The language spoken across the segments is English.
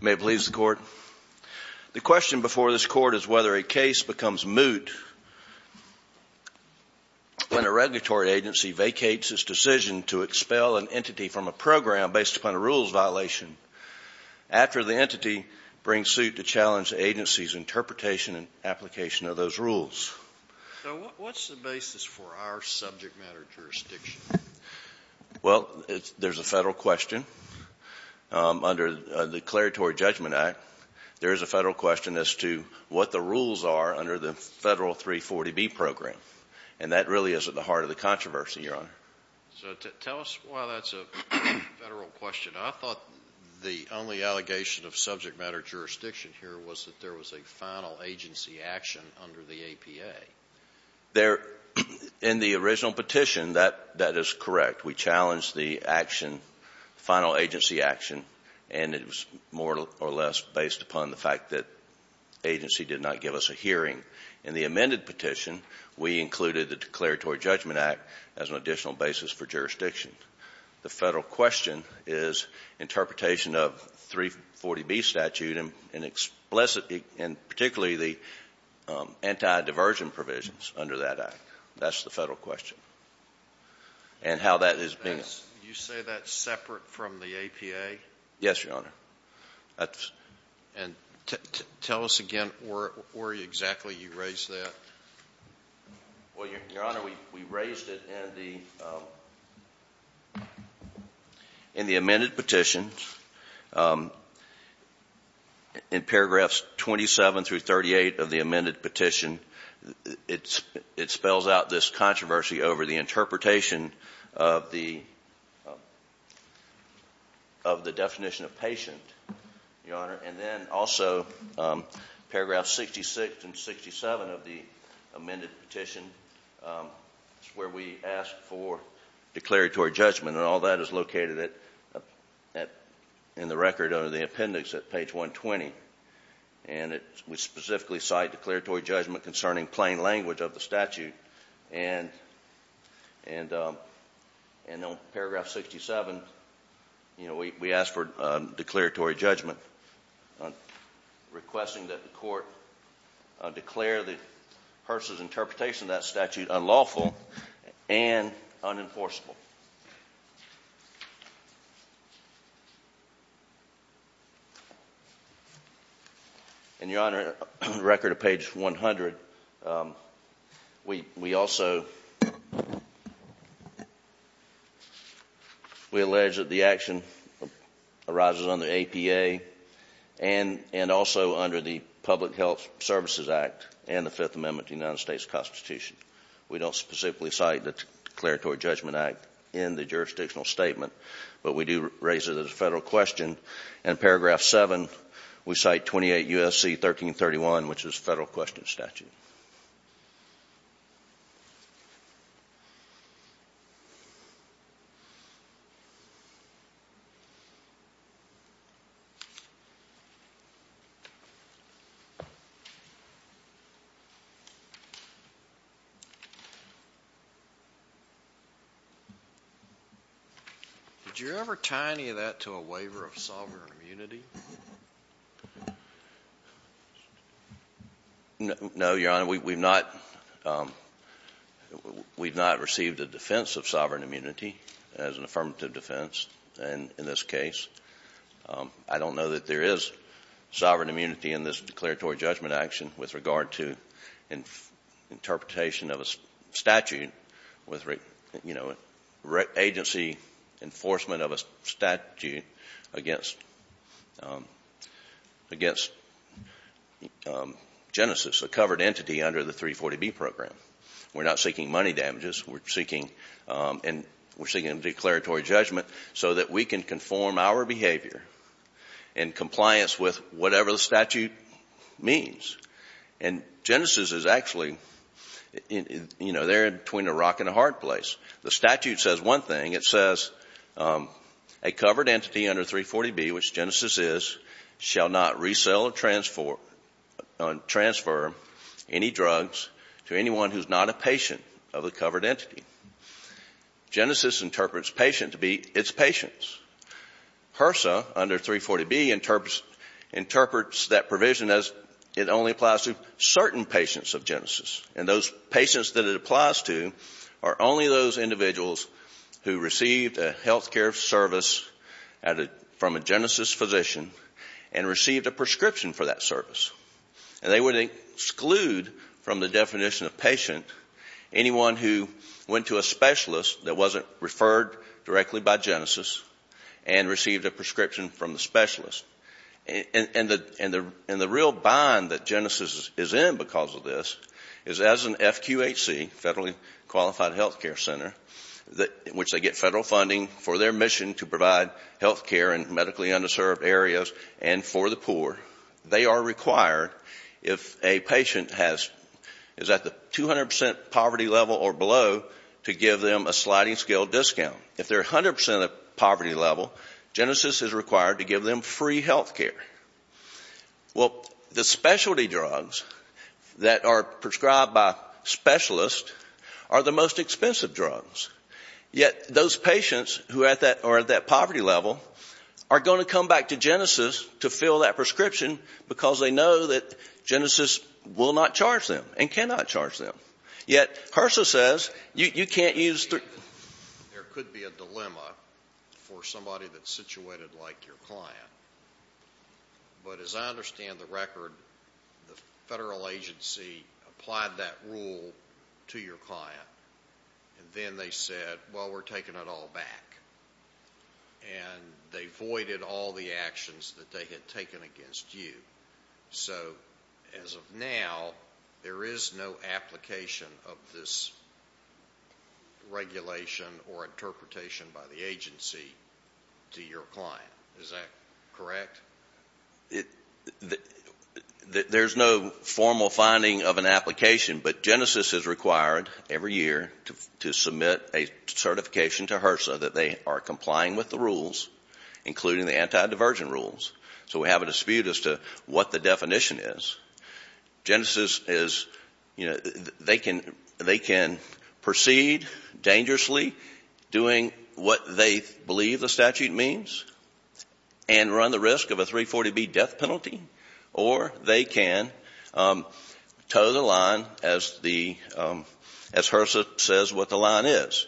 May it please the Court. The question before this Court is whether a case becomes moot when a regulatory agency vacates its decision to expel an entity from a program based upon a rules violation after the entity brings suit to challenge the agency's interpretation and application of those rules. Now, what's the basis for our subject matter jurisdiction? Well, there's a Federal question. Under the Declaratory Judgment Act, there is a Federal question as to what the rules are under the Federal 340B program. And that really is at the heart of the controversy, Your Honor. So tell us why that's a Federal question. I thought the only allegation of subject matter jurisdiction here was that there was a final agency action under the APA. In the original petition, that is correct. We challenged the action, the final agency action, and it was more or less based upon the fact that the agency did not give us a hearing. In the amended petition, we included the Declaratory Judgment Act as an additional basis for jurisdiction. The Federal question is interpretation of the 340B statute and particularly the anti-diversion provisions under that act. That's the Federal question. And how that has been — You say that's separate from the APA? Yes, Your Honor. And tell us again where exactly you raised that. Well, Your Honor, we raised it in the amended petition. In paragraphs 27 through 38 of the amended petition, it spells out this controversy over the interpretation of the definition of patient, Your Honor. And then also paragraph 66 and 67 of the amended petition is where we ask for declaratory judgment. And all that is located in the record under the appendix at page 120. And we specifically cite declaratory judgment concerning plain language of the statute. And on paragraph 67, we ask for declaratory judgment, requesting that the court declare the person's interpretation of that statute unlawful and unenforceable. And Your Honor, on the record at page 100, we also — we allege that the action arises under APA and also under the Public Health Services Act and the Fifth Amendment of the United States Constitution. We don't specifically cite the declaratory judgment act in the jurisdictional statement, but we do raise it as a Federal question. And in paragraph 7, we cite 28 U.S.C. 1331, which is a Federal question statute. Did you ever tie any of that to a waiver of sovereign immunity? No, Your Honor. We've not received a defense of sovereign immunity as an affirmative defense in this case. I don't know that there is sovereign immunity in this declaratory judgment action with regard to interpretation of a statute with, you know, agency enforcement of a statute against Genesis, a covered entity under the 340B program. We're not seeking money damages. We're seeking — and we're seeking a declaratory judgment so that we can conform our behavior in compliance with whatever the statute means. And Genesis is actually, you know, there between a rock and a hard place. The statute says one thing. It says a covered entity under 340B, which Genesis is, shall not resell or transfer any drugs to anyone who is not a patient of a covered entity. Genesis interprets patient to be its patients. HRSA under 340B interprets that provision as it only applies to certain patients of Genesis. And those patients that it applies to are only those individuals who received a health care service from a Genesis physician and received a prescription for that service. And they would exclude from the definition of patient anyone who went to a specialist that wasn't referred directly by Genesis and received a prescription from the specialist. And the real bind that Genesis is in because of this is as an FQHC, federally qualified health care center, in which they get federal funding for their mission to provide health care in medically underserved areas and for the poor, they are required if a patient is at the 200 percent poverty level or below to give them a sliding scale discount. If they're 100 percent at the poverty level, Genesis is required to give them free health care. Well, the specialty drugs that are prescribed by specialists are the most expensive drugs. Yet those patients who are at that poverty level are going to come back to Genesis to fill that prescription because they know that Genesis will not charge them and cannot charge them. Yet HRSA says you can't use... There could be a dilemma for somebody that's situated like your client. But as I understand the record, the federal agency applied that rule to your client and then they said, well, we're taking it all back. And they voided all the actions that they had taken against you. So as of now, there is no application of this regulation or interpretation by the agency to your client. Is that correct? There's no formal finding of an application. But Genesis is required every year to submit a certification to HRSA that they are complying with the rules, including the anti-divergent rules. So we have a dispute as to what the definition is. Genesis is... They can proceed dangerously doing what they believe the statute means and run the risk of a 340B death penalty. Or they can toe the line as HRSA says what the line is.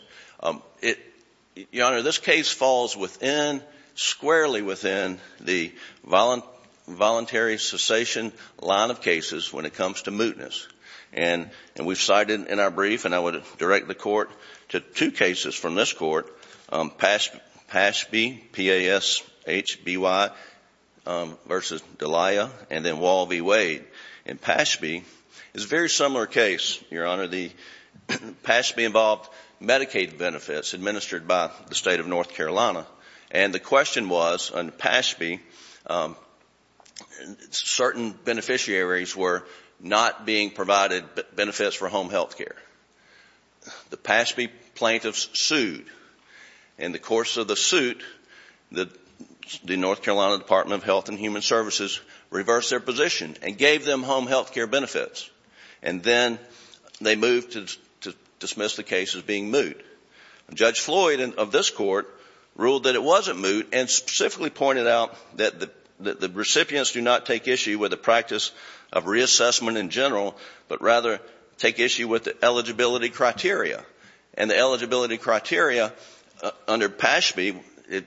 Your Honor, this case falls within, squarely within the voluntary cessation line of cases when it comes to mootness. And we've cited in our brief, and I would direct the court to two cases from this court, Pashby, P-A-S-H-B-Y, versus D'Elia, and then Wall v. Wade. And Pashby is a very similar case, Your Honor. The Pashby involved Medicaid benefits administered by the state of North Carolina. And the question was, under Pashby, certain beneficiaries were not being provided benefits for home health care. The Pashby plaintiffs sued. In the course of the suit, the North Carolina Department of Health and Human Services reversed their position and gave them home health care benefits. And then they moved to dismiss the case as being moot. Judge Floyd of this court ruled that it wasn't moot and specifically pointed out that the recipients do not take issue with the practice of reassessment in general, but rather take issue with the eligibility criteria. And the eligibility criteria under Pashby, it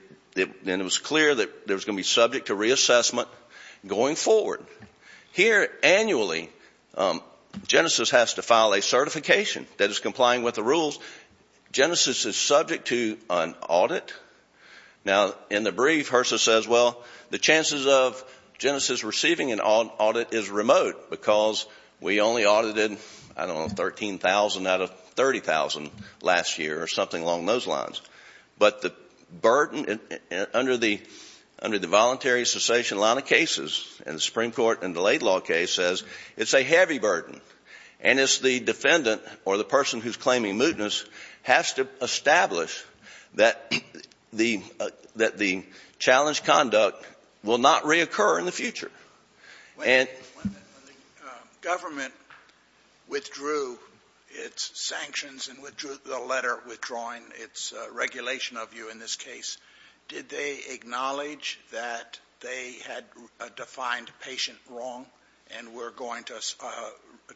was clear that it was going to be subject to reassessment going forward. Here, annually, Genesys has to file a certification that is complying with the rules. Genesys is subject to an audit. Now, in the brief, HRSA says, well, the chances of Genesys receiving an audit is remote because we only audited, I don't know, 13,000 out of 30,000 last year or something along those lines. But the burden under the voluntary cessation line of cases in the Supreme Court and the late law case says it's a heavy burden. And it's the defendant or the person who's claiming mootness has to establish that the challenged conduct will not reoccur in the future. When the government withdrew its sanctions and withdrew the letter withdrawing its regulation of you in this case, did they acknowledge that they had defined patient wrong and were going to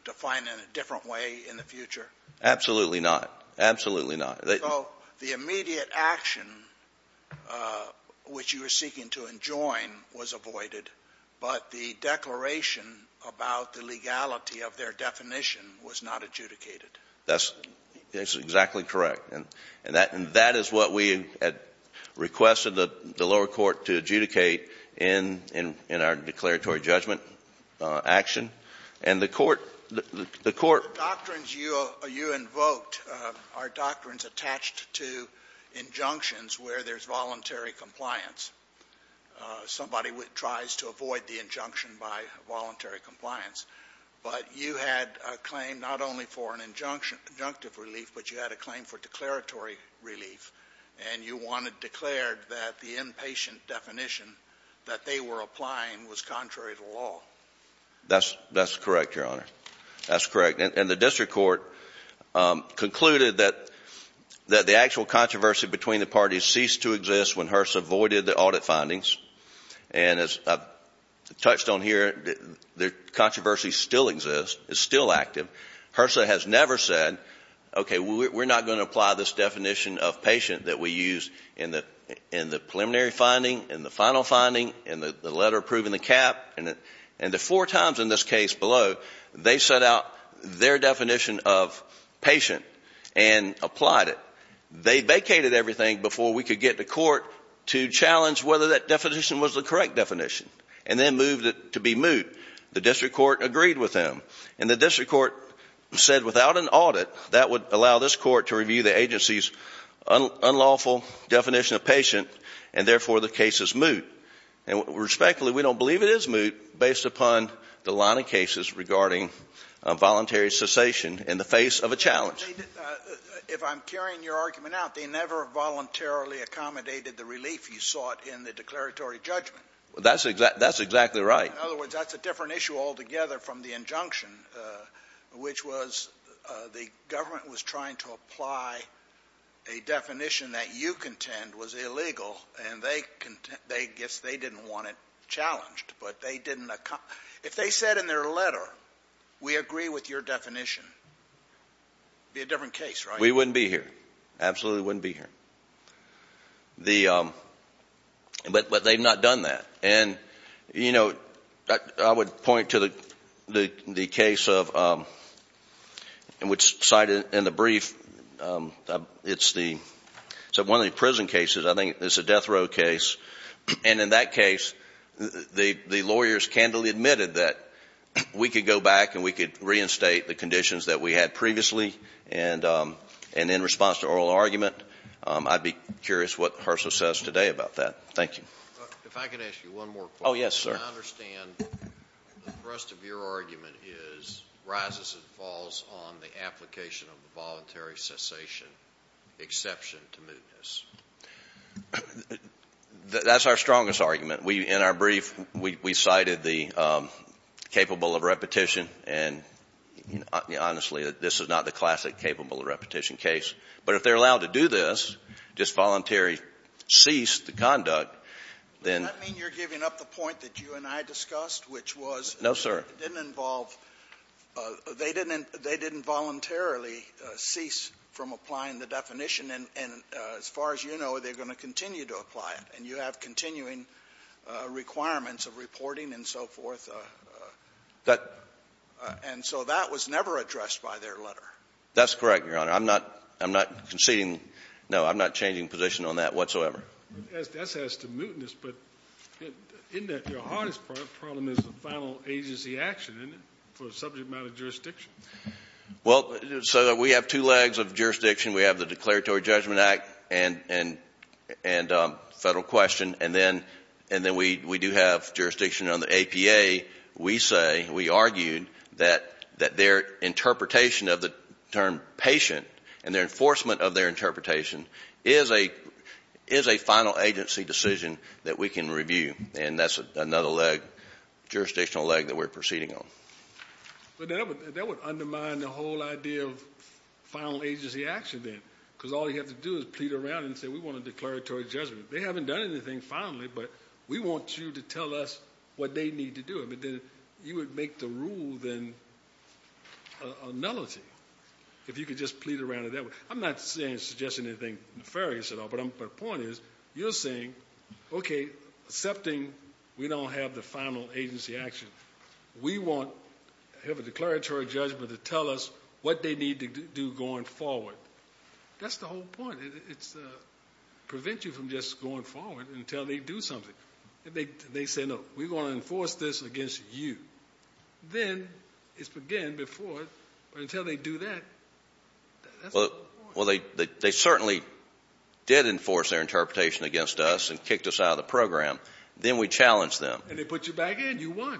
define it in a different way in the future? Absolutely not. Absolutely not. So the immediate action which you were seeking to enjoin was avoided, but the declaration about the legality of their definition was not adjudicated? That's exactly correct. And that is what we had requested the lower court to adjudicate in our declaratory judgment action. And the court — Well, you invoked our doctrines attached to injunctions where there's voluntary compliance. Somebody tries to avoid the injunction by voluntary compliance. But you had a claim not only for an injunctive relief, but you had a claim for declaratory relief, and you wanted declared that the inpatient definition that they were applying was contrary to law. That's correct, Your Honor. That's correct. And the district court concluded that the actual controversy between the parties ceased to exist when HRSA voided the audit findings. And as I've touched on here, the controversy still exists, is still active. HRSA has never said, okay, we're not going to apply this definition of patient that we used in the preliminary finding, in the final finding, in the letter approving the cap. And the four times in this case below, they set out their definition of patient and applied it. They vacated everything before we could get to court to challenge whether that definition was the correct definition, and then moved it to be moot. The district court agreed with them. And the district court said without an audit, that would allow this court to review the agency's unlawful definition of patient, and therefore the case is moot. And respectfully, we don't believe it is moot based upon the line of cases regarding voluntary cessation in the face of a challenge. If I'm carrying your argument out, they never voluntarily accommodated the relief you sought in the declaratory judgment. That's exactly right. In other words, that's a different issue altogether from the injunction, which was the government was trying to apply a definition that you contend was illegal. And they didn't want it challenged. But if they said in their letter, we agree with your definition, it would be a different case, right? We wouldn't be here. Absolutely wouldn't be here. But they've not done that. And you know, I would point to the case of, which cited in the brief, it's one of the prison cases. I think it's a death row case. And in that case, the lawyers candidly admitted that we could go back and we could reinstate the conditions that we had previously, and in response to oral argument, I'd be curious what HRSA says today about that. Thank you. If I could ask you one more point. Oh, yes, sir. I understand the thrust of your argument is rises and falls on the application of the voluntary cessation exception to mootness. That's our strongest argument. In our brief, we cited the capable of repetition. And honestly, this is not the classic capable of repetition case. But if they're allowed to do this, just voluntarily cease the conduct, then you're giving up the point that you and I discussed, which was no, sir, didn't involve they didn't. They didn't voluntarily cease from applying the definition. And as far as you know, they're going to continue to apply it. And you have continuing requirements of reporting and so forth. That. And so that was never addressed by their letter. That's correct, Your Honor. I'm not I'm not conceding. No, I'm not changing position on that whatsoever. That's as to mootness, but in that your hardest problem is the final agency action for subject matter jurisdiction. Well, so we have two legs of jurisdiction. We have the Declaratory Judgment Act and and and federal question. And then and then we we do have jurisdiction on the APA. We say we argued that that their interpretation of the term patient and their enforcement of their interpretation is a is a final agency decision that we can review. And that's another leg jurisdictional leg that we're proceeding on. But that would undermine the whole idea of final agency action then, because all you have to do is plead around and say we want a declaratory judgment. They haven't done anything finally, but we want you to tell us what they need to do. But then you would make the rule then a nullity. If you could just plead around it that way. I'm not saying suggesting anything nefarious at all, but I'm but the point is you're saying, OK, accepting we don't have the final agency action. We want to have a declaratory judgment to tell us what they need to do going forward. That's the whole point. It's prevent you from just going forward until they do something. They say, no, we want to enforce this against you. Then it's again before until they do that. Well, they certainly did enforce their interpretation against us and kicked us out of the program. Then we challenge them and they put you back in. You won.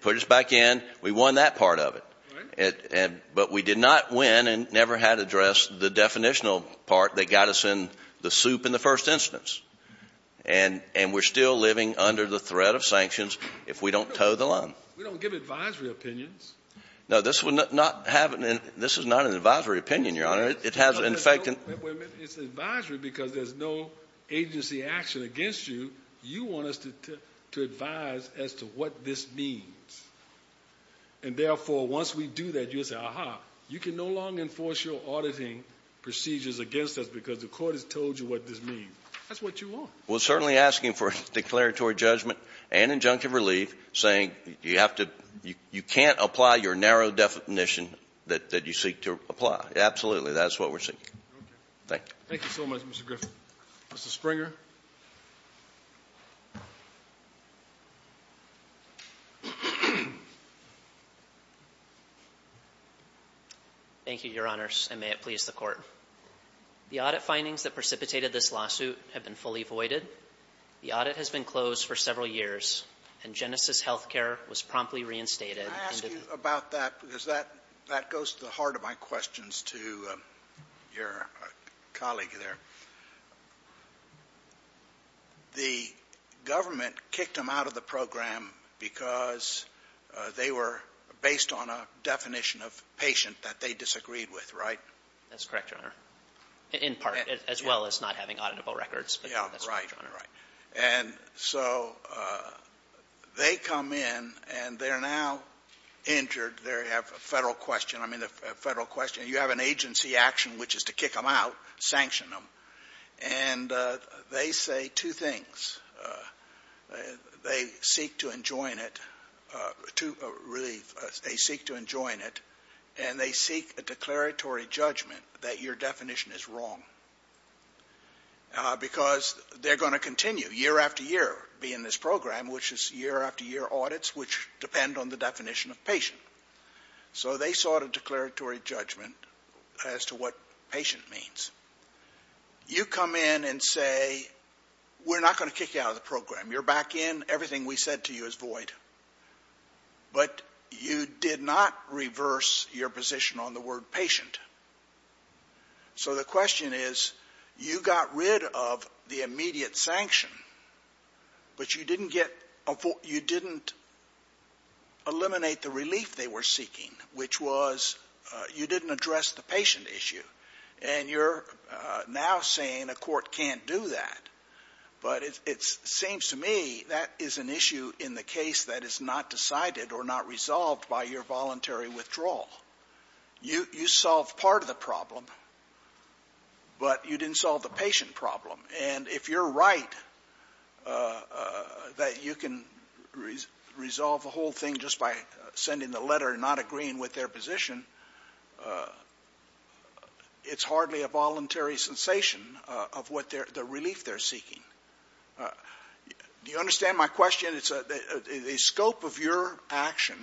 Put us back in. We won that part of it. But we did not win and never had addressed the definitional part that got us in the soup in the first instance. And we're still living under the threat of sanctions if we don't tow the line. We don't give advisory opinions. No, this is not an advisory opinion, Your Honor. It's advisory because there's no agency action against you. You want us to advise as to what this means. And therefore, once we do that, you'll say, aha, you can no longer enforce your auditing procedures against us because the court has told you what this means. That's what you want. We're certainly asking for a declaratory judgment and injunctive relief saying you have to, you can't apply your narrow definition that you seek to apply. Absolutely. That's what we're seeking. Thank you. Thank you so much, Mr. Griffin. Mr. Springer. Thank you, Your Honors, and may it please the Court. The audit findings that precipitated this lawsuit have been fully voided. The audit has been closed for several years and Genesis Healthcare was promptly reinstated. Can I ask you about that because that goes to the heart of my questions to your colleague there. The government kicked them out of the program because they were based on a definition of patient that they disagreed with, right? That's correct, Your Honor. In part, as well as not having auditable records. Yeah, right, right. And so they come in and they're now injured. They have a Federal question. I mean, a Federal question. You have an agency action which is to kick them out, sanction them. And they say two things. They seek to enjoin it, to relieve. They seek to enjoin it and they seek a declaratory judgment that your definition is wrong because they're going to continue year after year, be in this program, which is year after year audits which depend on the definition of patient. So they sought a declaratory judgment as to what patient means. You come in and say, we're not going to kick you out of the program. You're back in. Everything we said to you is void. But you did not reverse your position on the word patient. So the question is, you got rid of the immediate sanction, but you didn't eliminate the relief they were seeking, which was you didn't address the patient issue. And you're now saying a court can't do that. But it seems to me that is an issue in the case that is not decided or not resolved by your voluntary withdrawal. You solved part of the problem, but you didn't solve the patient problem. And if you're right that you can resolve the whole thing just by sending the letter and not agreeing with their position, it's hardly a voluntary sensation of what the relief they're seeking. Do you understand my question? The scope of your action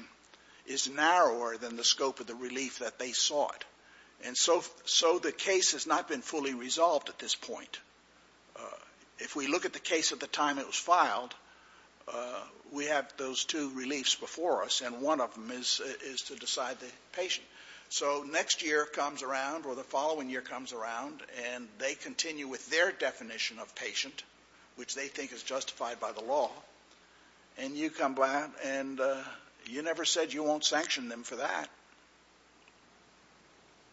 is narrower than the scope of the relief that they sought. And so the case has not been fully resolved at this point. If we look at the case at the time it was filed, we have those two reliefs before us, and one of them is to decide the patient. So next year comes around, or the following year comes around, and they continue with their definition of patient, which they think is justified by the law. And you come back and you never said you won't sanction them for that.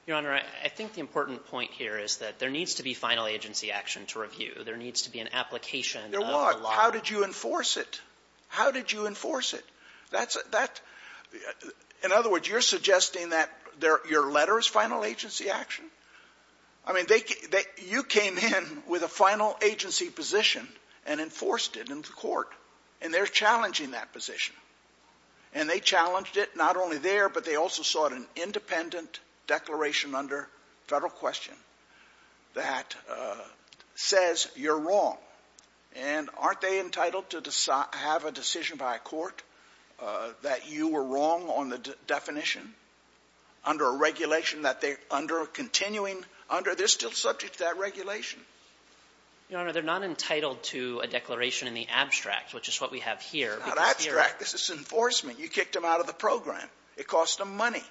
Your Honor, I think the important point here is that there needs to be final agency action to review. There needs to be an application of the law. Your Honor, how did you enforce it? How did you enforce it? That's a — that — in other words, you're suggesting that your letter is final agency action? I mean, they — you came in with a final agency position and enforced it in the court. And they're challenging that position. And they challenged it not only there, but they also sought an independent declaration under federal question that says you're wrong. And aren't they entitled to have a decision by a court that you were wrong on the definition under a regulation that they — under a continuing — under — they're still subject to that regulation. Your Honor, they're not entitled to a declaration in the abstract, which is what we have here. It's not abstract. This is enforcement. You kicked them out of the program. It cost them money.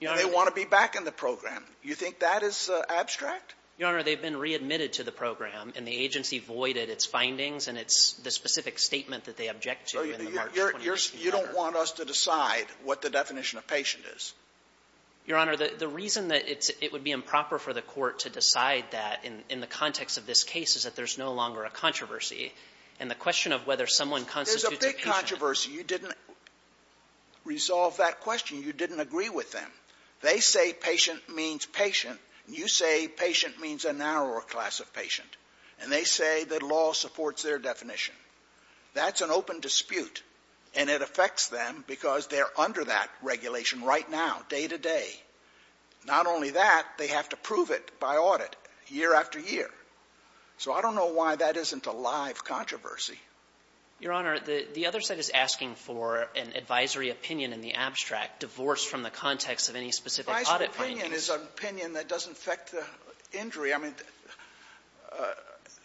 Your Honor — And they want to be back in the program. You think that is abstract? Your Honor, they've been readmitted to the program, and the agency voided its findings and its — the specific statement that they object to in the March 2018 letter. So you don't want us to decide what the definition of patient is? Your Honor, the reason that it's — it would be improper for the court to decide that in the context of this case is that there's no longer a controversy. And the question of whether someone constitutes a patient — There's a big controversy. You didn't resolve that question. You didn't agree with them. They say patient means patient, and you say patient means a narrower class of patient. And they say the law supports their definition. That's an open dispute, and it affects them because they're under that regulation right now, day to day. Not only that, they have to prove it by audit, year after year. So I don't know why that isn't a live controversy. Your Honor, the other side is asking for an advisory opinion in the abstract divorced from the context of any specific audit findings. Advisory opinion is an opinion that doesn't affect the injury. I mean,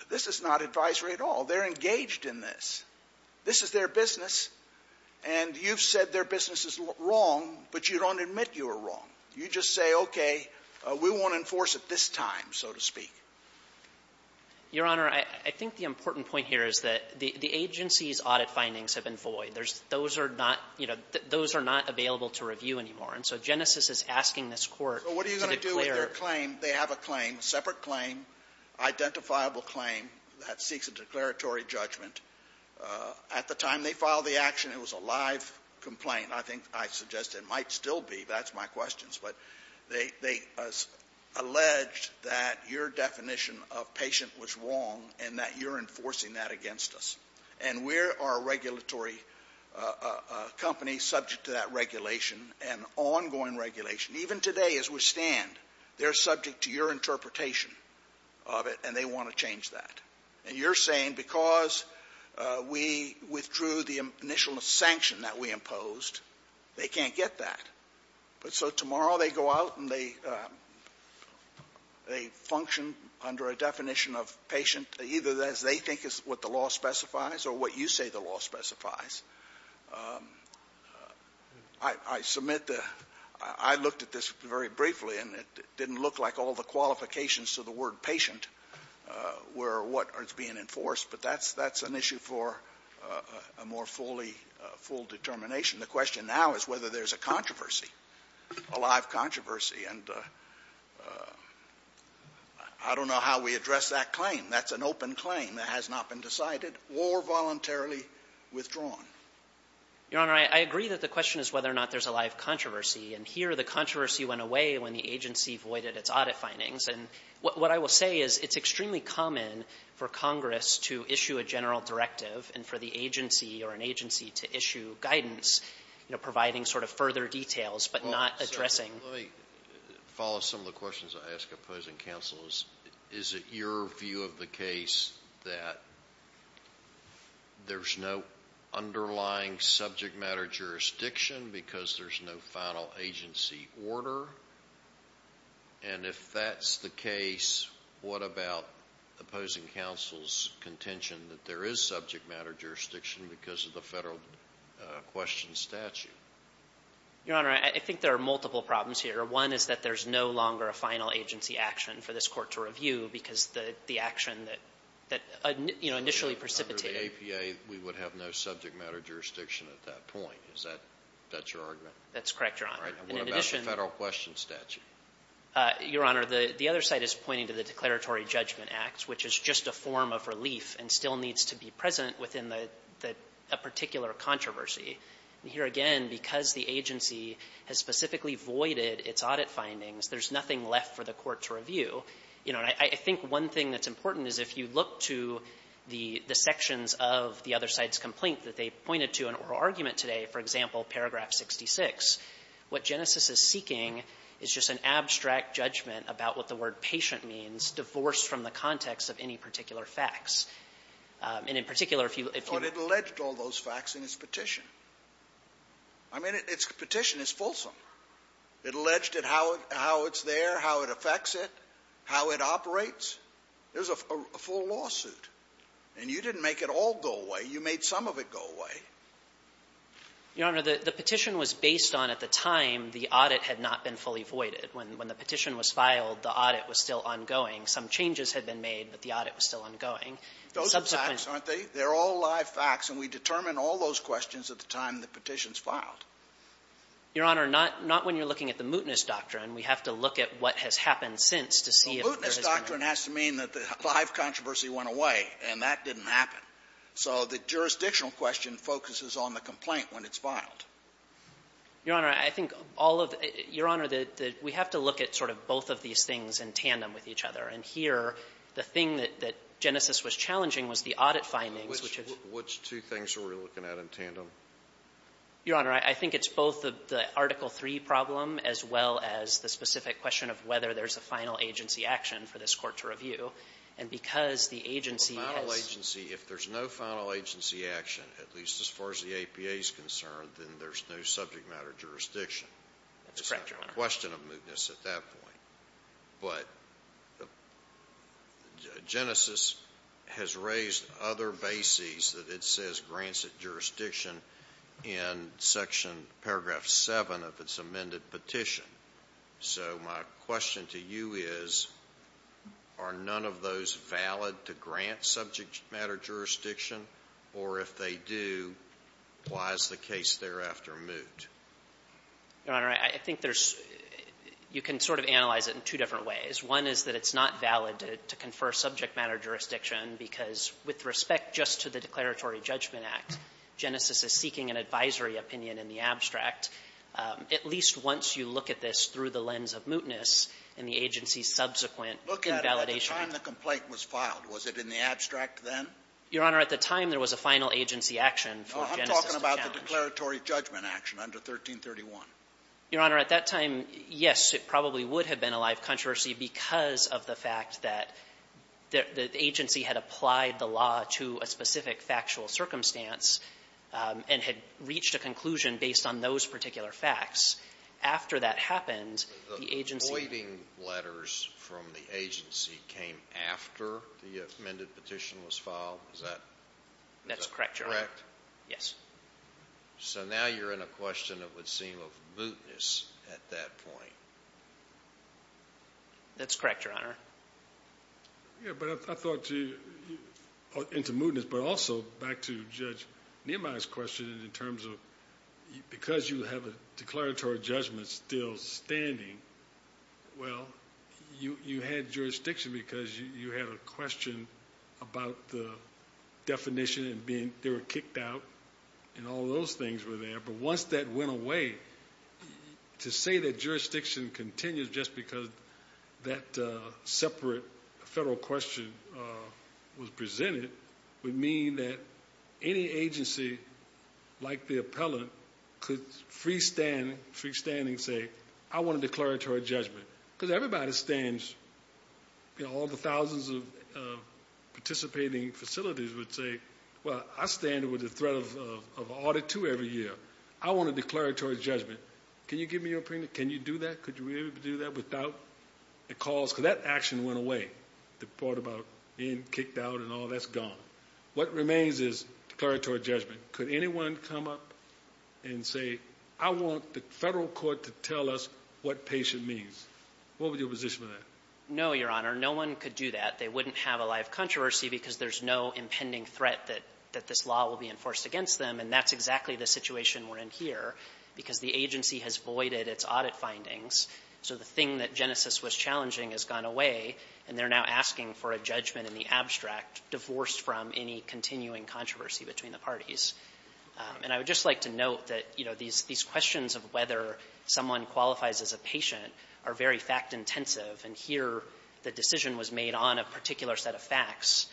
this is not advisory at all. They're engaged in this. This is their business. And you've said their business is wrong, but you don't admit you are wrong. You just say, okay, we won't enforce it this time, so to speak. Your Honor, I think the important point here is that the agency's audit findings have been void. Those are not, you know, those are not available to review anymore. And so Genesis is asking this Court to declare. So what are you going to do with their claim? They have a claim, separate claim, identifiable claim that seeks a declaratory judgment. At the time they filed the action, it was a live complaint. I think I suggest it might still be. That's my question. But they alleged that your definition of patient was wrong and that you're enforcing that against us. And we are a regulatory company subject to that regulation and ongoing regulation. Even today as we stand, they're subject to your interpretation of it and they want to change that. And you're saying because we withdrew the initial sanction that we imposed, they can't get that. So tomorrow they go out and they function under a definition of patient, either as they think is what the law specifies or what you say the law specifies. I submit the — I looked at this very briefly, and it didn't look like all the qualifications to the word patient were what was being enforced. But that's an issue for a more fully — full determination. The question now is whether there's a controversy, a live controversy. And I don't know how we address that claim. That's an open claim that has not been decided or voluntarily withdrawn. Your Honor, I agree that the question is whether or not there's a live controversy. And here the controversy went away when the agency voided its audit findings. And what I will say is it's extremely common for Congress to issue a general directive and for the agency or an agency to issue guidance, you know, providing sort of further details but not addressing — Let me follow some of the questions I ask opposing counsels. Is it your view of the case that there's no underlying subject matter jurisdiction because there's no final agency order? And if that's the case, what about opposing counsel's contention that there is subject matter jurisdiction because of the federal question statute? Your Honor, I think there are multiple problems here. One is that there's no longer a final agency action for this Court to review because the action that, you know, initially precipitated — Under the APA, we would have no subject matter jurisdiction at that point. Is that your argument? That's correct, Your Honor. And in addition — And what about the federal question statute? Your Honor, the other side is pointing to the Declaratory Judgment Act, which is just a form of relief and still needs to be present within a particular controversy. And here again, because the agency has specifically voided its audit findings, there's nothing left for the Court to review. You know, and I think one thing that's important is if you look to the sections of the other side's complaint that they pointed to in oral argument today, for example, paragraph 66, what Genesis is seeking is just an abstract judgment about what the context of any particular facts. And in particular, if you — But it alleged all those facts in its petition. I mean, its petition is fulsome. It alleged how it's there, how it affects it, how it operates. There's a full lawsuit. And you didn't make it all go away. You made some of it go away. Your Honor, the petition was based on, at the time, the audit had not been fully voided. When the petition was filed, the audit was still ongoing. Some changes had been made, but the audit was still ongoing. Subsequent — Those are facts, aren't they? They're all live facts. And we determine all those questions at the time the petition's filed. Your Honor, not — not when you're looking at the mootness doctrine. We have to look at what has happened since to see if there is a — Well, mootness doctrine has to mean that the live controversy went away, and that didn't happen. So the jurisdictional question focuses on the complaint when it's filed. Your Honor, I think all of — Your Honor, the — we have to look at sort of both of each other. And here, the thing that Genesis was challenging was the audit findings, which is — Which two things are we looking at in tandem? Your Honor, I think it's both the Article III problem as well as the specific question of whether there's a final agency action for this court to review. And because the agency has — Final agency — if there's no final agency action, at least as far as the APA's concerned, then there's no subject matter jurisdiction. That's correct, Your Honor. It's not a question of mootness at that point. But Genesis has raised other bases that it says grants at jurisdiction in section paragraph 7 of its amended petition. So my question to you is, are none of those valid to grant subject matter jurisdiction? Or if they do, why is the case thereafter moot? Your Honor, I think there's — you can sort of analyze it in two different ways. One is that it's not valid to confer subject matter jurisdiction because with respect just to the Declaratory Judgment Act, Genesis is seeking an advisory opinion in the abstract. At least once you look at this through the lens of mootness in the agency's subsequent invalidation — Look at it at the time the complaint was filed. Was it in the abstract then? Your Honor, at the time, there was a final agency action for Genesis to challenge. The Declaratory Judgment Action under 1331. Your Honor, at that time, yes, it probably would have been a live controversy because of the fact that the agency had applied the law to a specific factual circumstance and had reached a conclusion based on those particular facts. After that happened, the agency — The voiding letters from the agency came after the amended petition was filed? That's correct, Your Honor. Is that correct? Yes. So now you're in a question that would seem of mootness at that point. That's correct, Your Honor. Yeah, but I thought — into mootness, but also back to Judge Niemeyer's question in terms of because you have a declaratory judgment still standing, well, you had jurisdiction because you had a question about the definition and they were kicked out and all those things were there. But once that went away, to say that jurisdiction continues just because that separate federal question was presented would mean that any agency, like the appellant, could freestand and say, I want a declaratory judgment. Because everybody stands — all the thousands of participating facilities would say, well, I stand with the threat of Audit 2 every year. I want a declaratory judgment. Can you give me your opinion? Can you do that? Could you really do that without a cause? Because that action went away, the part about being kicked out and all. That's gone. What remains is declaratory judgment. Could anyone come up and say, I want the federal court to tell us what patient means? What would your position be on that? No, Your Honor. No one could do that. They wouldn't have a live controversy because there's no impending threat that this law will be enforced against them. And that's exactly the situation we're in here, because the agency has voided its audit findings. So the thing that Genesis was challenging has gone away and they're now asking for a judgment in the abstract, divorced from any continuing controversy between the parties. And I would just like to note that, you know, these questions of whether someone qualifies as a patient are very fact-intensive. And here, the decision was made on a particular set of facts.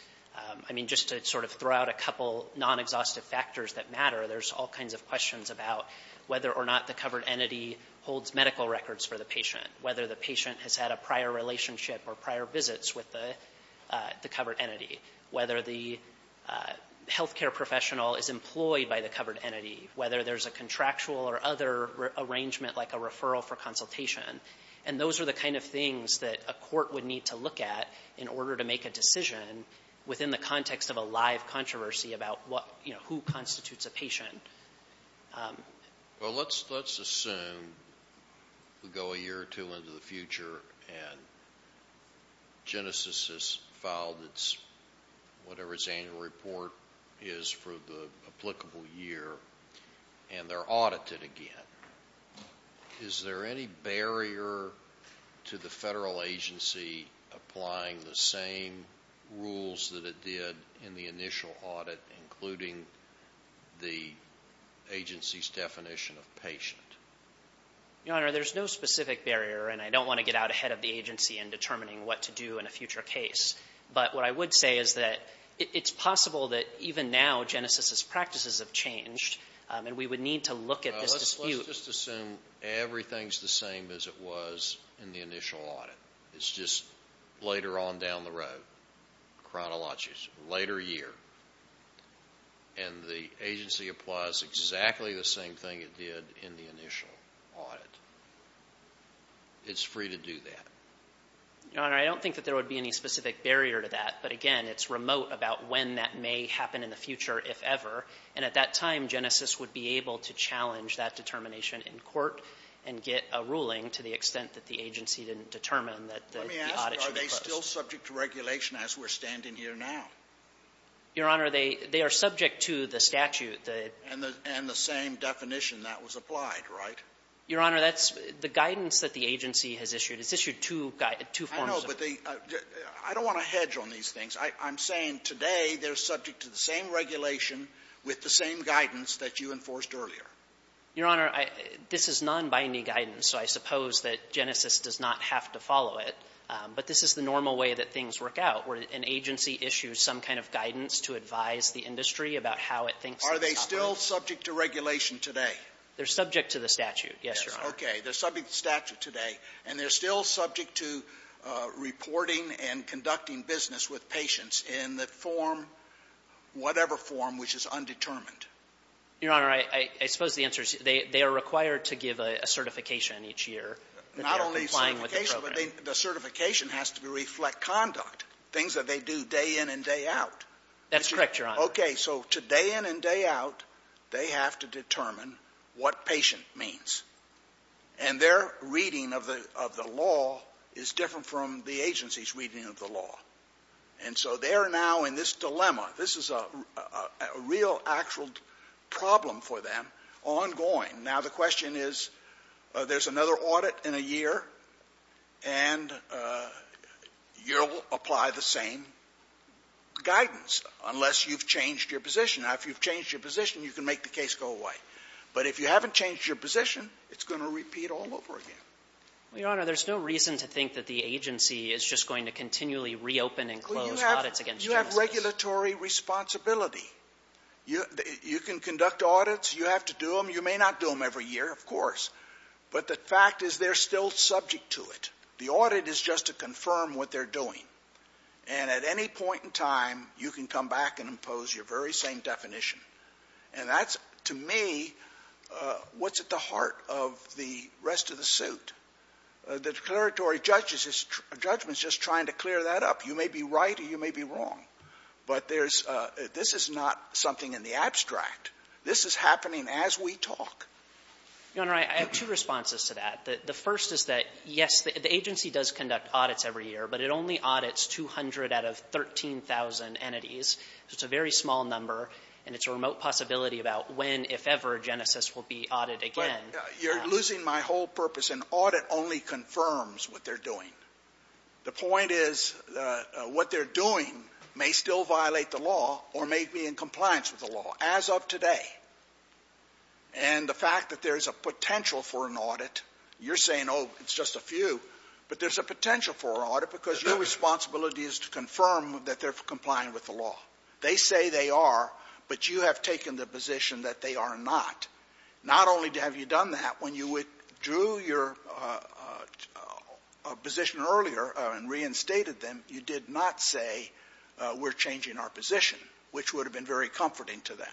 I mean, just to sort of throw out a couple non-exhaustive factors that matter, there's all kinds of questions about whether or not the covered entity holds medical records for the patient, whether the patient has had a prior relationship or prior visits with the covered entity, whether the healthcare professional is employed by the covered entity, whether there's a contractual or other arrangement, like a referral for consultation. And those are the kind of things that a court would need to look at in order to make a decision within the context of a live controversy about what, you know, who constitutes a patient. Well, let's assume we go a year or two into the future and Genesis has filed whatever its annual report is for the applicable year and they're audited again. Is there any barrier to the federal agency applying the same rules that it did in the initial audit, including the agency's definition of patient? Your Honor, there's no specific barrier, and I don't want to get out ahead of the agency in determining what to do in a future case. But what I would say is that it's possible that even now Genesis' practices have changed, and we would need to look at this dispute. Well, let's just assume everything's the same as it was in the initial audit. It's just later on down the road, chronologies, later year. And the agency applies exactly the same thing it did in the initial audit. It's free to do that. Your Honor, I don't think that there would be any specific barrier to that. But again, it's remote about when that may happen in the future, if ever. And at that time, Genesis would be able to challenge that determination in court and get a ruling to the extent that the agency didn't determine that the audit should be closed. Let me ask you, are they still subject to regulation as we're standing here now? Your Honor, they are subject to the statute. And the same definition that was applied, right? Your Honor, that's the guidance that the agency has issued. It's issued two forms. I know, but I don't want to hedge on these things. I'm saying today they're subject to the same regulation with the same guidance that you enforced earlier. Your Honor, this is non-binding guidance. So I suppose that Genesis does not have to follow it. But this is the normal way that things work out, where an agency issues some kind of guidance to advise the industry about how it thinks it's operating. Are they still subject to regulation today? They're subject to the statute, yes, Your Honor. Okay, they're subject to the statute today. And they're still subject to reporting and conducting business with patients in the form, whatever form, which is undetermined? Your Honor, I suppose the answer is they are required to give a certification each year. Not only certification, but the certification has to reflect conduct, things that they do day in and day out. That's correct, Your Honor. Okay, so day in and day out, they have to determine what patient means. And their reading of the law is different from the agency's reading of the law. And so they're now in this dilemma. This is a real actual problem for them ongoing. Now, the question is, there's another audit in a year, and you'll apply the same guidance, unless you've changed your position. Now, if you've changed your position, you can make the case go away. But if you haven't changed your position, it's going to repeat all over again. Your Honor, there's no reason to think that the agency is just going to continually reopen and close audits against justice. You have regulatory responsibility. You can conduct audits. You have to do them. You may not do them every year, of course. But the fact is they're still subject to it. The audit is just to confirm what they're doing. And at any point in time, you can come back and impose your very same definition. And that's, to me, what's at the heart of the rest of the suit. The declaratory judgment is just trying to clear that up. You may be right or you may be wrong. But this is not something in the abstract. This is happening as we talk. Your Honor, I have two responses to that. The first is that, yes, the agency does conduct audits every year, but it only audits 200 out of 13,000 entities. It's a very small number, and it's a remote possibility about when, if ever, Genesis will be audited again. You're losing my whole purpose. An audit only confirms what they're doing. The point is what they're doing may still violate the law or may be in compliance with the law, as of today. And the fact that there's a potential for an audit, you're saying, oh, it's just a few. But there's a potential for an audit because your responsibility is to confirm that they're complying with the law. They say they are, but you have taken the position that they are not. Not only have you done that, when you withdrew your position earlier and reinstated them, you did not say, we're changing our position, which would have been very comforting to them.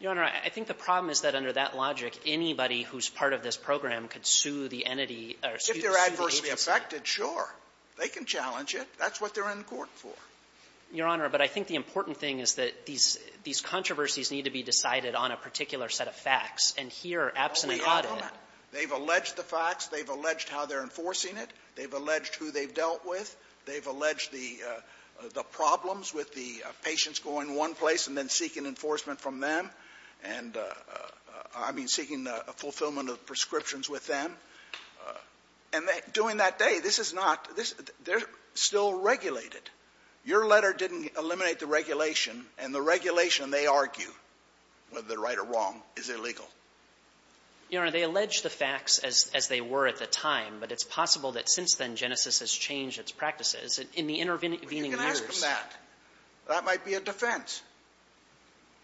Your Honor, I think the problem is that under that logic, anybody who's part of this program could sue the entity or sue the agency. If they're adversely affected, sure. They can challenge it. That's what they're in court for. Your Honor, but I think the important thing is that these controversies need to be decided on a particular set of facts. And here, absent an audit. Oh, my God. They've alleged the facts. They've alleged how they're enforcing it. They've alleged who they've dealt with. They've alleged the problems with the patients going one place and then seeking enforcement from them and, I mean, seeking fulfillment of prescriptions with them. And during that day, this is not — they're still regulated. Your letter didn't eliminate the regulation. And the regulation, they argue, whether they're right or wrong, is illegal. Your Honor, they allege the facts as they were at the time. But it's possible that since then, Genesis has changed its practices in the intervening years. But you can ask them that. That might be a defense.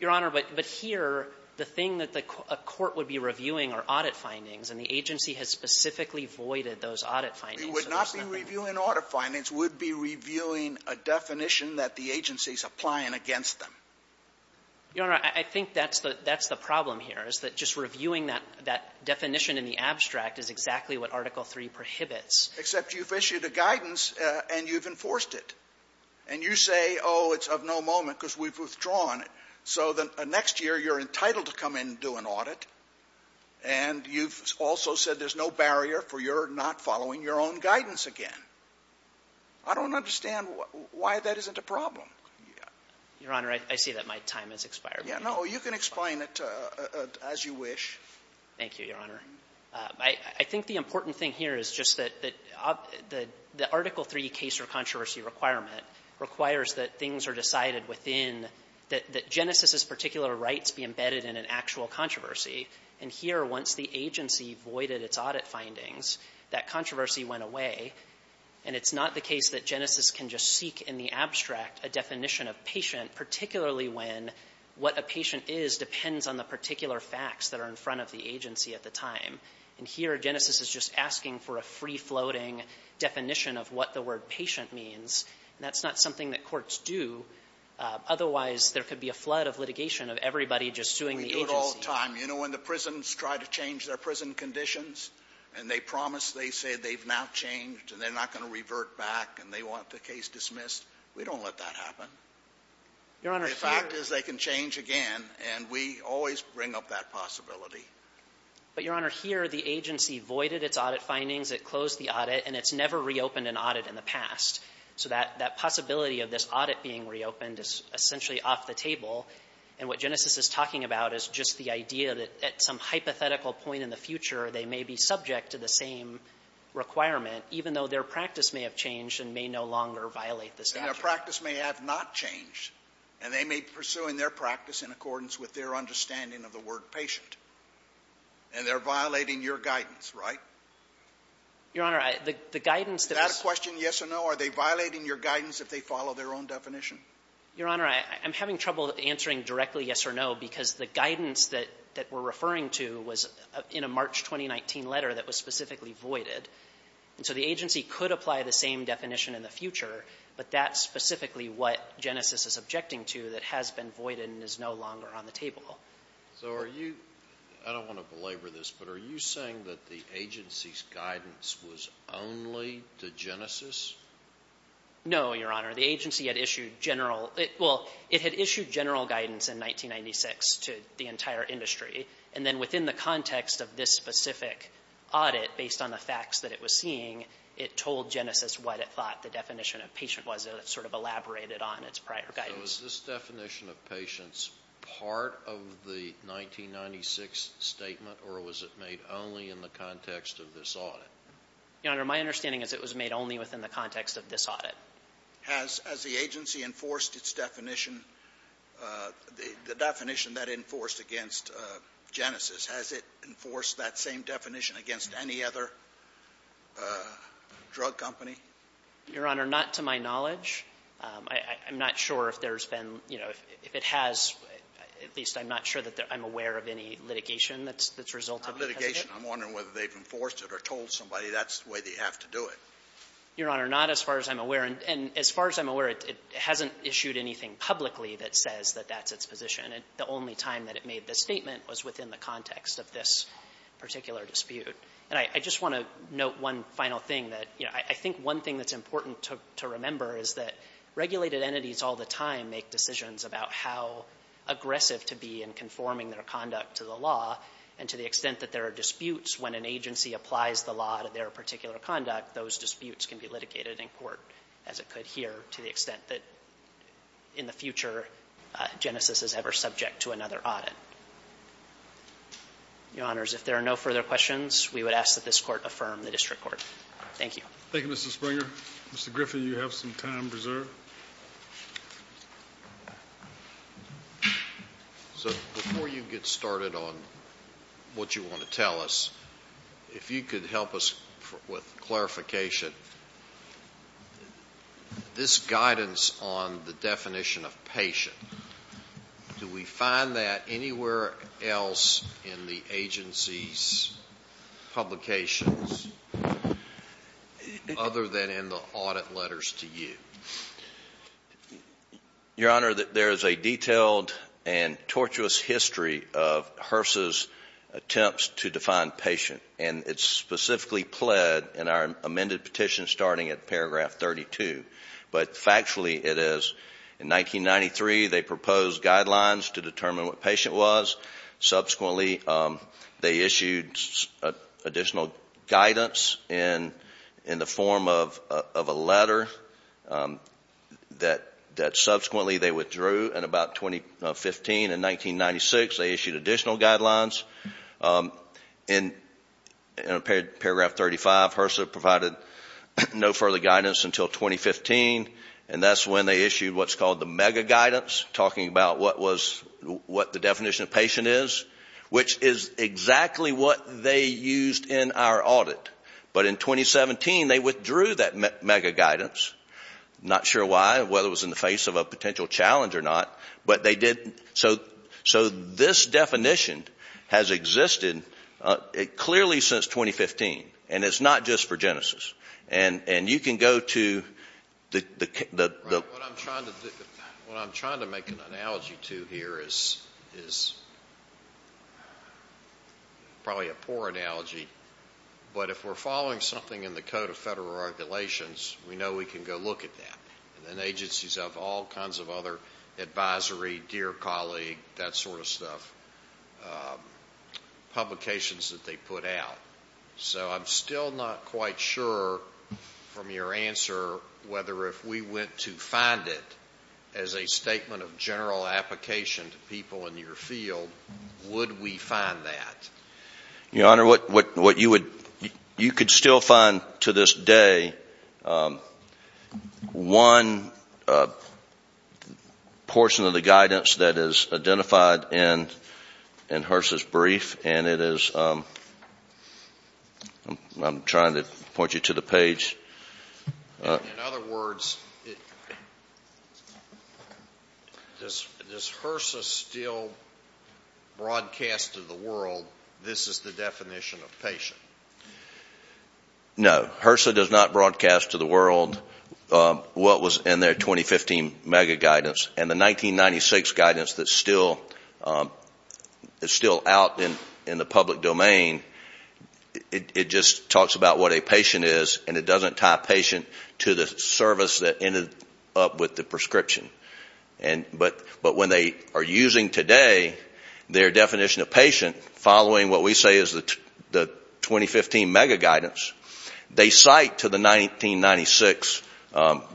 Your Honor, but here, the thing that a court would be reviewing are audit findings. And the agency has specifically voided those audit findings. We would not be reviewing audit findings. We'd be reviewing a definition that the agency's applying against them. Your Honor, I think that's the problem here, is that just reviewing that definition in the abstract is exactly what Article III prohibits. Except you've issued a guidance and you've enforced it. And you say, oh, it's of no moment because we've withdrawn it. So the next year, you're entitled to come in and do an audit. And you've also said there's no barrier for your not following your own guidance again. I don't understand why that isn't a problem. Your Honor, I see that my time has expired. No, you can explain it as you wish. Thank you, Your Honor. I think the important thing here is just that the Article III case or controversy requirement requires that things are decided within, that Genesis's particular rights be embedded in an actual controversy. And here, once the agency voided its audit findings, that controversy went away. And it's not the case that Genesis can just seek in the abstract a definition of patient, particularly when what a patient is depends on the particular facts that are in front of the agency at the time. And here, Genesis is just asking for a free-floating definition of what the word patient means. And that's not something that courts do. Otherwise, there could be a flood of litigation of everybody just suing the agency. We do it all the time. You know, when the prisons try to change their prison conditions and they promise they say they've now changed and they're not going to revert back and they want the case dismissed, we don't let that happen. The fact is they can change again, and we always bring up that possibility. But, Your Honor, here, the agency voided its audit findings, it closed the audit, and it's never reopened an audit in the past. So that possibility of this audit being reopened is essentially off the table. And what Genesis is talking about is just the idea that at some hypothetical point in the future, they may be subject to the same requirement, even though their practice may have changed and may no longer violate the statute. And their practice may have not changed, and they may be pursuing their practice in accordance with their understanding of the word patient. And they're violating your guidance, right? Your Honor, the guidance that was... Is that a question, yes or no? Are they violating your guidance if they follow their own definition? Your Honor, I'm having trouble answering directly yes or no, because the guidance that we're referring to was in a March 2019 letter that was specifically voided. And so the agency could apply the same definition in the future, but that's specifically what Genesis is objecting to that has been voided and is no longer on the table. So are you... I don't want to belabor this, but are you saying that the agency's guidance was only to Genesis? No, Your Honor. The agency had issued general... And then within the context of this specific audit, based on the facts that it was seeing, it told Genesis what it thought the definition of patient was, and it sort of elaborated on its prior guidance. So is this definition of patients part of the 1996 statement, or was it made only in the context of this audit? Your Honor, my understanding is it was made only within the context of this audit. Has the agency enforced its definition, the definition that it enforced against Genesis? Has it enforced that same definition against any other drug company? Your Honor, not to my knowledge. I'm not sure if there's been, you know, if it has, at least I'm not sure that I'm aware of any litigation that's resulted because of it. I'm wondering whether they've enforced it or told somebody that's the way they have to do it. Your Honor, not as far as I'm aware. And as far as I'm aware, it hasn't issued anything publicly that says that that's its position. The only time that it made this statement was within the context of this particular dispute. And I just want to note one final thing that, you know, I think one thing that's important to remember is that regulated entities all the time make decisions about how aggressive to be in conforming their conduct to the law, and to the extent that there are disputes when an agency applies the law to their particular conduct, those disputes can be litigated in court as it could here to the extent that in the future Genesis is ever subject to another audit. Your Honors, if there are no further questions, we would ask that this court affirm the district court. Thank you. Thank you, Mr. Springer. Mr. Griffin, you have some time preserved. Thank you, Your Honor. So before you get started on what you want to tell us, if you could help us with clarification, this guidance on the definition of patient, do we find that anywhere else in the agency's publications other than in the audit letters to you? Your Honor, there is a detailed and tortuous history of HRSA's attempts to define patient, and it's specifically pled in our amended petition starting at paragraph 32, but factually it is in 1993 they proposed guidelines to determine what patient was. Subsequently, they issued additional guidance in the form of a letter that subsequently they withdrew in about 2015. In 1996, they issued additional guidelines. In paragraph 35, HRSA provided no further guidance until 2015, and that's when they which is exactly what they used in our audit. But in 2017, they withdrew that mega guidance. Not sure why, whether it was in the face of a potential challenge or not, but they did. So this definition has existed clearly since 2015, and it's not just for Genesis. And you can go to the What I'm trying to make an analogy to here is probably a poor analogy, but if we're following something in the Code of Federal Regulations, we know we can go look at that. And agencies have all kinds of other advisory, dear colleague, that sort of stuff, publications that they put out. So I'm still not quite sure from your answer whether if we went to find it as a statement of general application to people in your field, would we find that? Your Honor, you could still find to this day one portion of the guidance that is identified in HRSA's brief, and it is I'm trying to point you to the page. In other words, does HRSA still broadcast to the world this is the definition of patient? No. HRSA does not broadcast to the world what was in their 2015 mega guidance. And the 1996 guidance is still out in the public domain. It just talks about what a patient is, and it doesn't tie a patient to the service that ended up with the prescription. But when they are using today their definition of patient, following what we say is the 2015 mega guidance, they cite to the 1996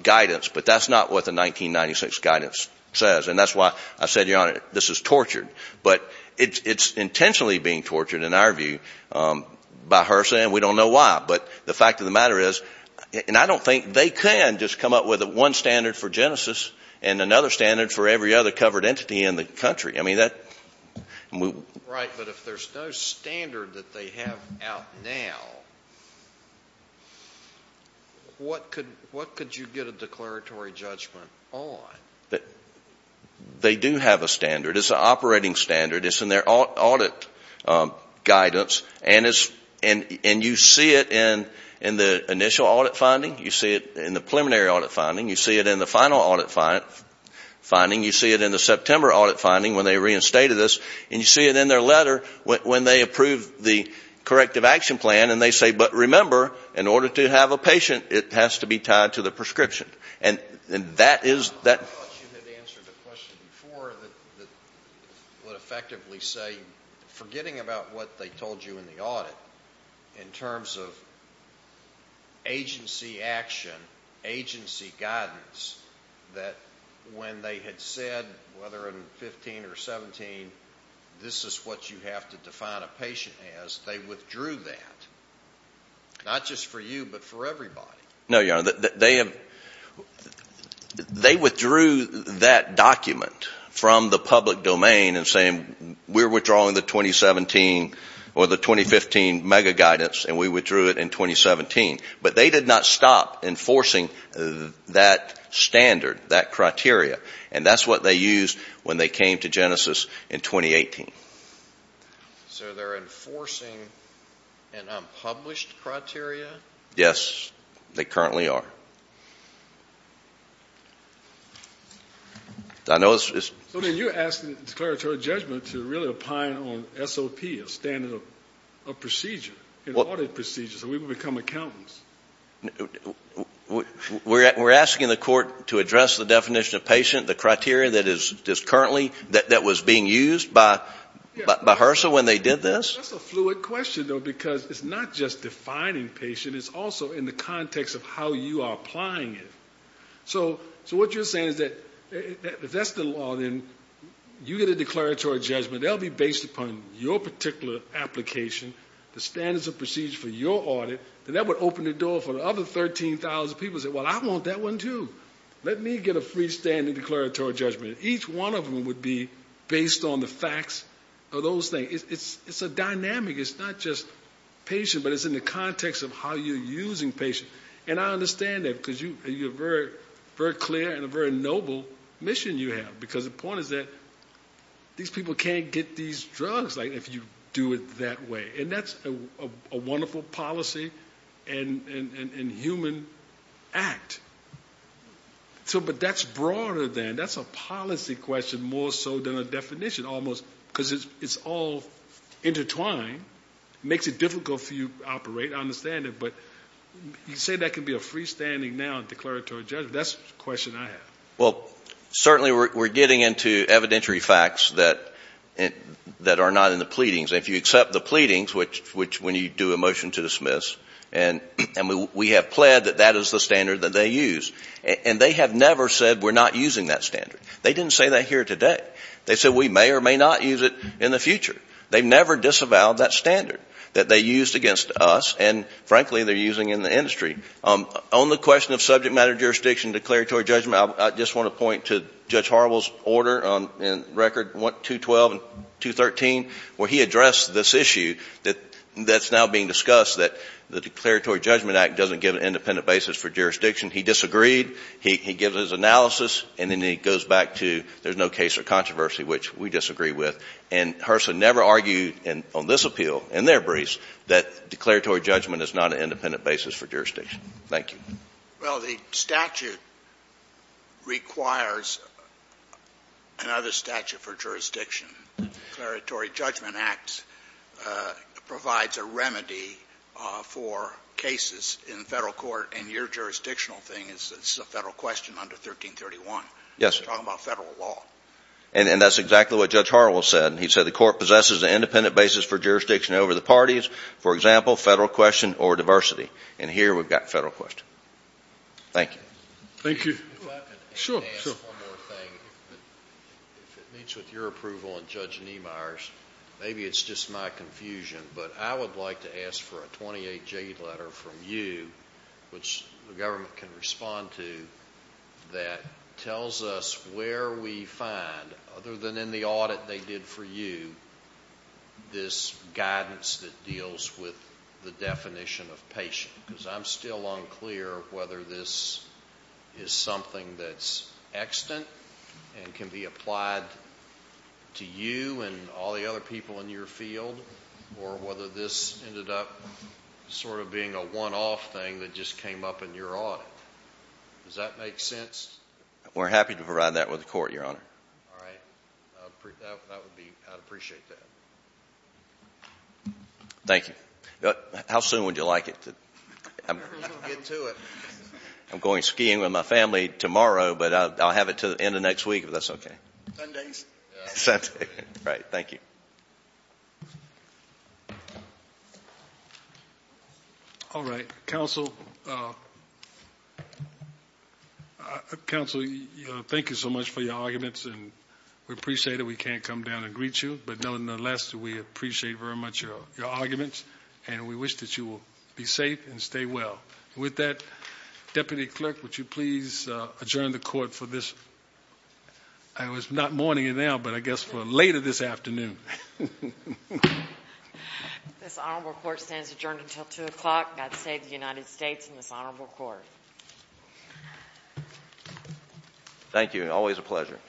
guidance, but that's not what the 1996 guidance says. And that's why I said, Your Honor, this is tortured. But it's intentionally being tortured in our view by HRSA, and we don't know why. But the fact of the matter is, and I don't think they can just come up with one standard for Genesis and another standard for every other covered entity in the country. Right, but if there's no standard that they have out now, what could you get a declaratory judgment on? They do have a standard. It's an operating standard. It's in their audit guidance. And you see it in the initial audit finding. You see it in the preliminary audit finding. You see it in the final audit finding. You see it in the September audit finding when they reinstated us. And you see it in their letter when they approve the corrective action plan. And they say, But remember, in order to have a patient, it has to be tied to the prescription. And that is... I thought you had answered the question before that would effectively say, forgetting about what they told you in the audit in terms of agency action, agency guidance, that when they had said, whether in 15 or 17, this is what you have to define a patient as, they withdrew that. Not just for you, but for everybody. No, Your Honor. They have... They withdrew that document from the public domain and saying, We're withdrawing the 2017 or the 2015 mega guidance, and we withdrew it in 2017. But they did not stop enforcing that standard, that criteria. And that's what they used when they came to Genesis in 2018. So they're enforcing an unpublished criteria? Yes, they currently are. You're asking the declaratory judgment to really opine on SOP, a standard of procedure, in audit procedures, so we would become accountants? We're asking the court to address the definition of patient, the criteria that is currently, that was being used by HRSA when they did this? That's a fluid question, though, because it's not just defining patient, it's also in the context of how you are applying it. So what you're saying is that, if that's the law, then you get a declaratory judgment, they'll be based upon your particular application, the standards of procedure for your audit, and that would open the door for the other 13,000 people to say, Well, I want that one, too. Let me get a freestanding declaratory judgment. Each one of them would be based on the facts of those things. It's a dynamic. It's not just patient, but it's in the context of how you're using patient. And I understand that, because you have a very clear and a very noble mission you have. Because the point is that these people can't get these drugs if you do it that way. And that's a wonderful policy and human act. But that's broader than, that's a policy question more so than a definition, almost, because it's all intertwined. It makes it difficult for you to operate, I understand it, but you say that can be a freestanding, now, declaratory judgment. That's the question I have. Well, certainly we're getting into evidentiary facts that are not in the pleadings. If you accept the pleadings, which when you do a motion to dismiss, and we have pled that that is the standard that they use, and they have never said we're not using that standard. They didn't say that here today. They said we may or may not use it in the future. They've never disavowed that standard that they used against us, and, frankly, they're using in the industry. On the question of subject matter jurisdiction, declaratory judgment, I just want to point to Judge Harwell's order in record 212 and 213, where he addressed this issue that's now being discussed, that the Declaratory Judgment Act doesn't give an independent basis for jurisdiction. He disagreed. He gives his analysis, and then he goes back to, there's no case or controversy, which we disagree with. And HRSA never argued on this appeal, in their briefs, that declaratory judgment is not an independent basis for jurisdiction. Thank you. Well, the statute requires another statute for jurisdiction. The Declaratory Judgment Act provides a remedy for cases in Federal court, and your jurisdictional thing is a Federal question under 1331. Yes. Talking about Federal law. And that's exactly what Judge Harwell said. He said the court possesses an independent basis for jurisdiction over the parties, for example, Federal question or diversity. And here we've got Federal question. Thank you. Thank you. If I could add one more thing, if it meets with your approval and Judge Niemeyer's, maybe it's just my confusion, but I would like to ask for a 28-J letter from you, which the government can respond to, that tells us where we find, other than in the audit they did for you, this guidance that deals with the definition of patient. Because I'm still unclear whether this is something that's extant, and can be applied to you and all the other people in your field, or whether this ended up sort of being a one-off thing that just came up in your audit. Does that make sense? We're happy to provide that with the court, Your Honor. All right. That would be, I'd appreciate that. Thank you. How soon would you like it? I'm going skiing with my family tomorrow, but I'll have it to the end of next week if that's okay. Sundays? Sunday. Right. Thank you. All right. Counsel, thank you so much for your arguments, and we appreciate it. We can't come down and greet you, but nonetheless we appreciate very much your arguments, and we wish that you will be safe and stay well. With that, Deputy Clerk, would you please adjourn the court for this, not morning and now, but I guess for later this afternoon. This honorable court stands adjourned until 2 o'clock. God save the United States and this honorable court. Thank you. Always a pleasure.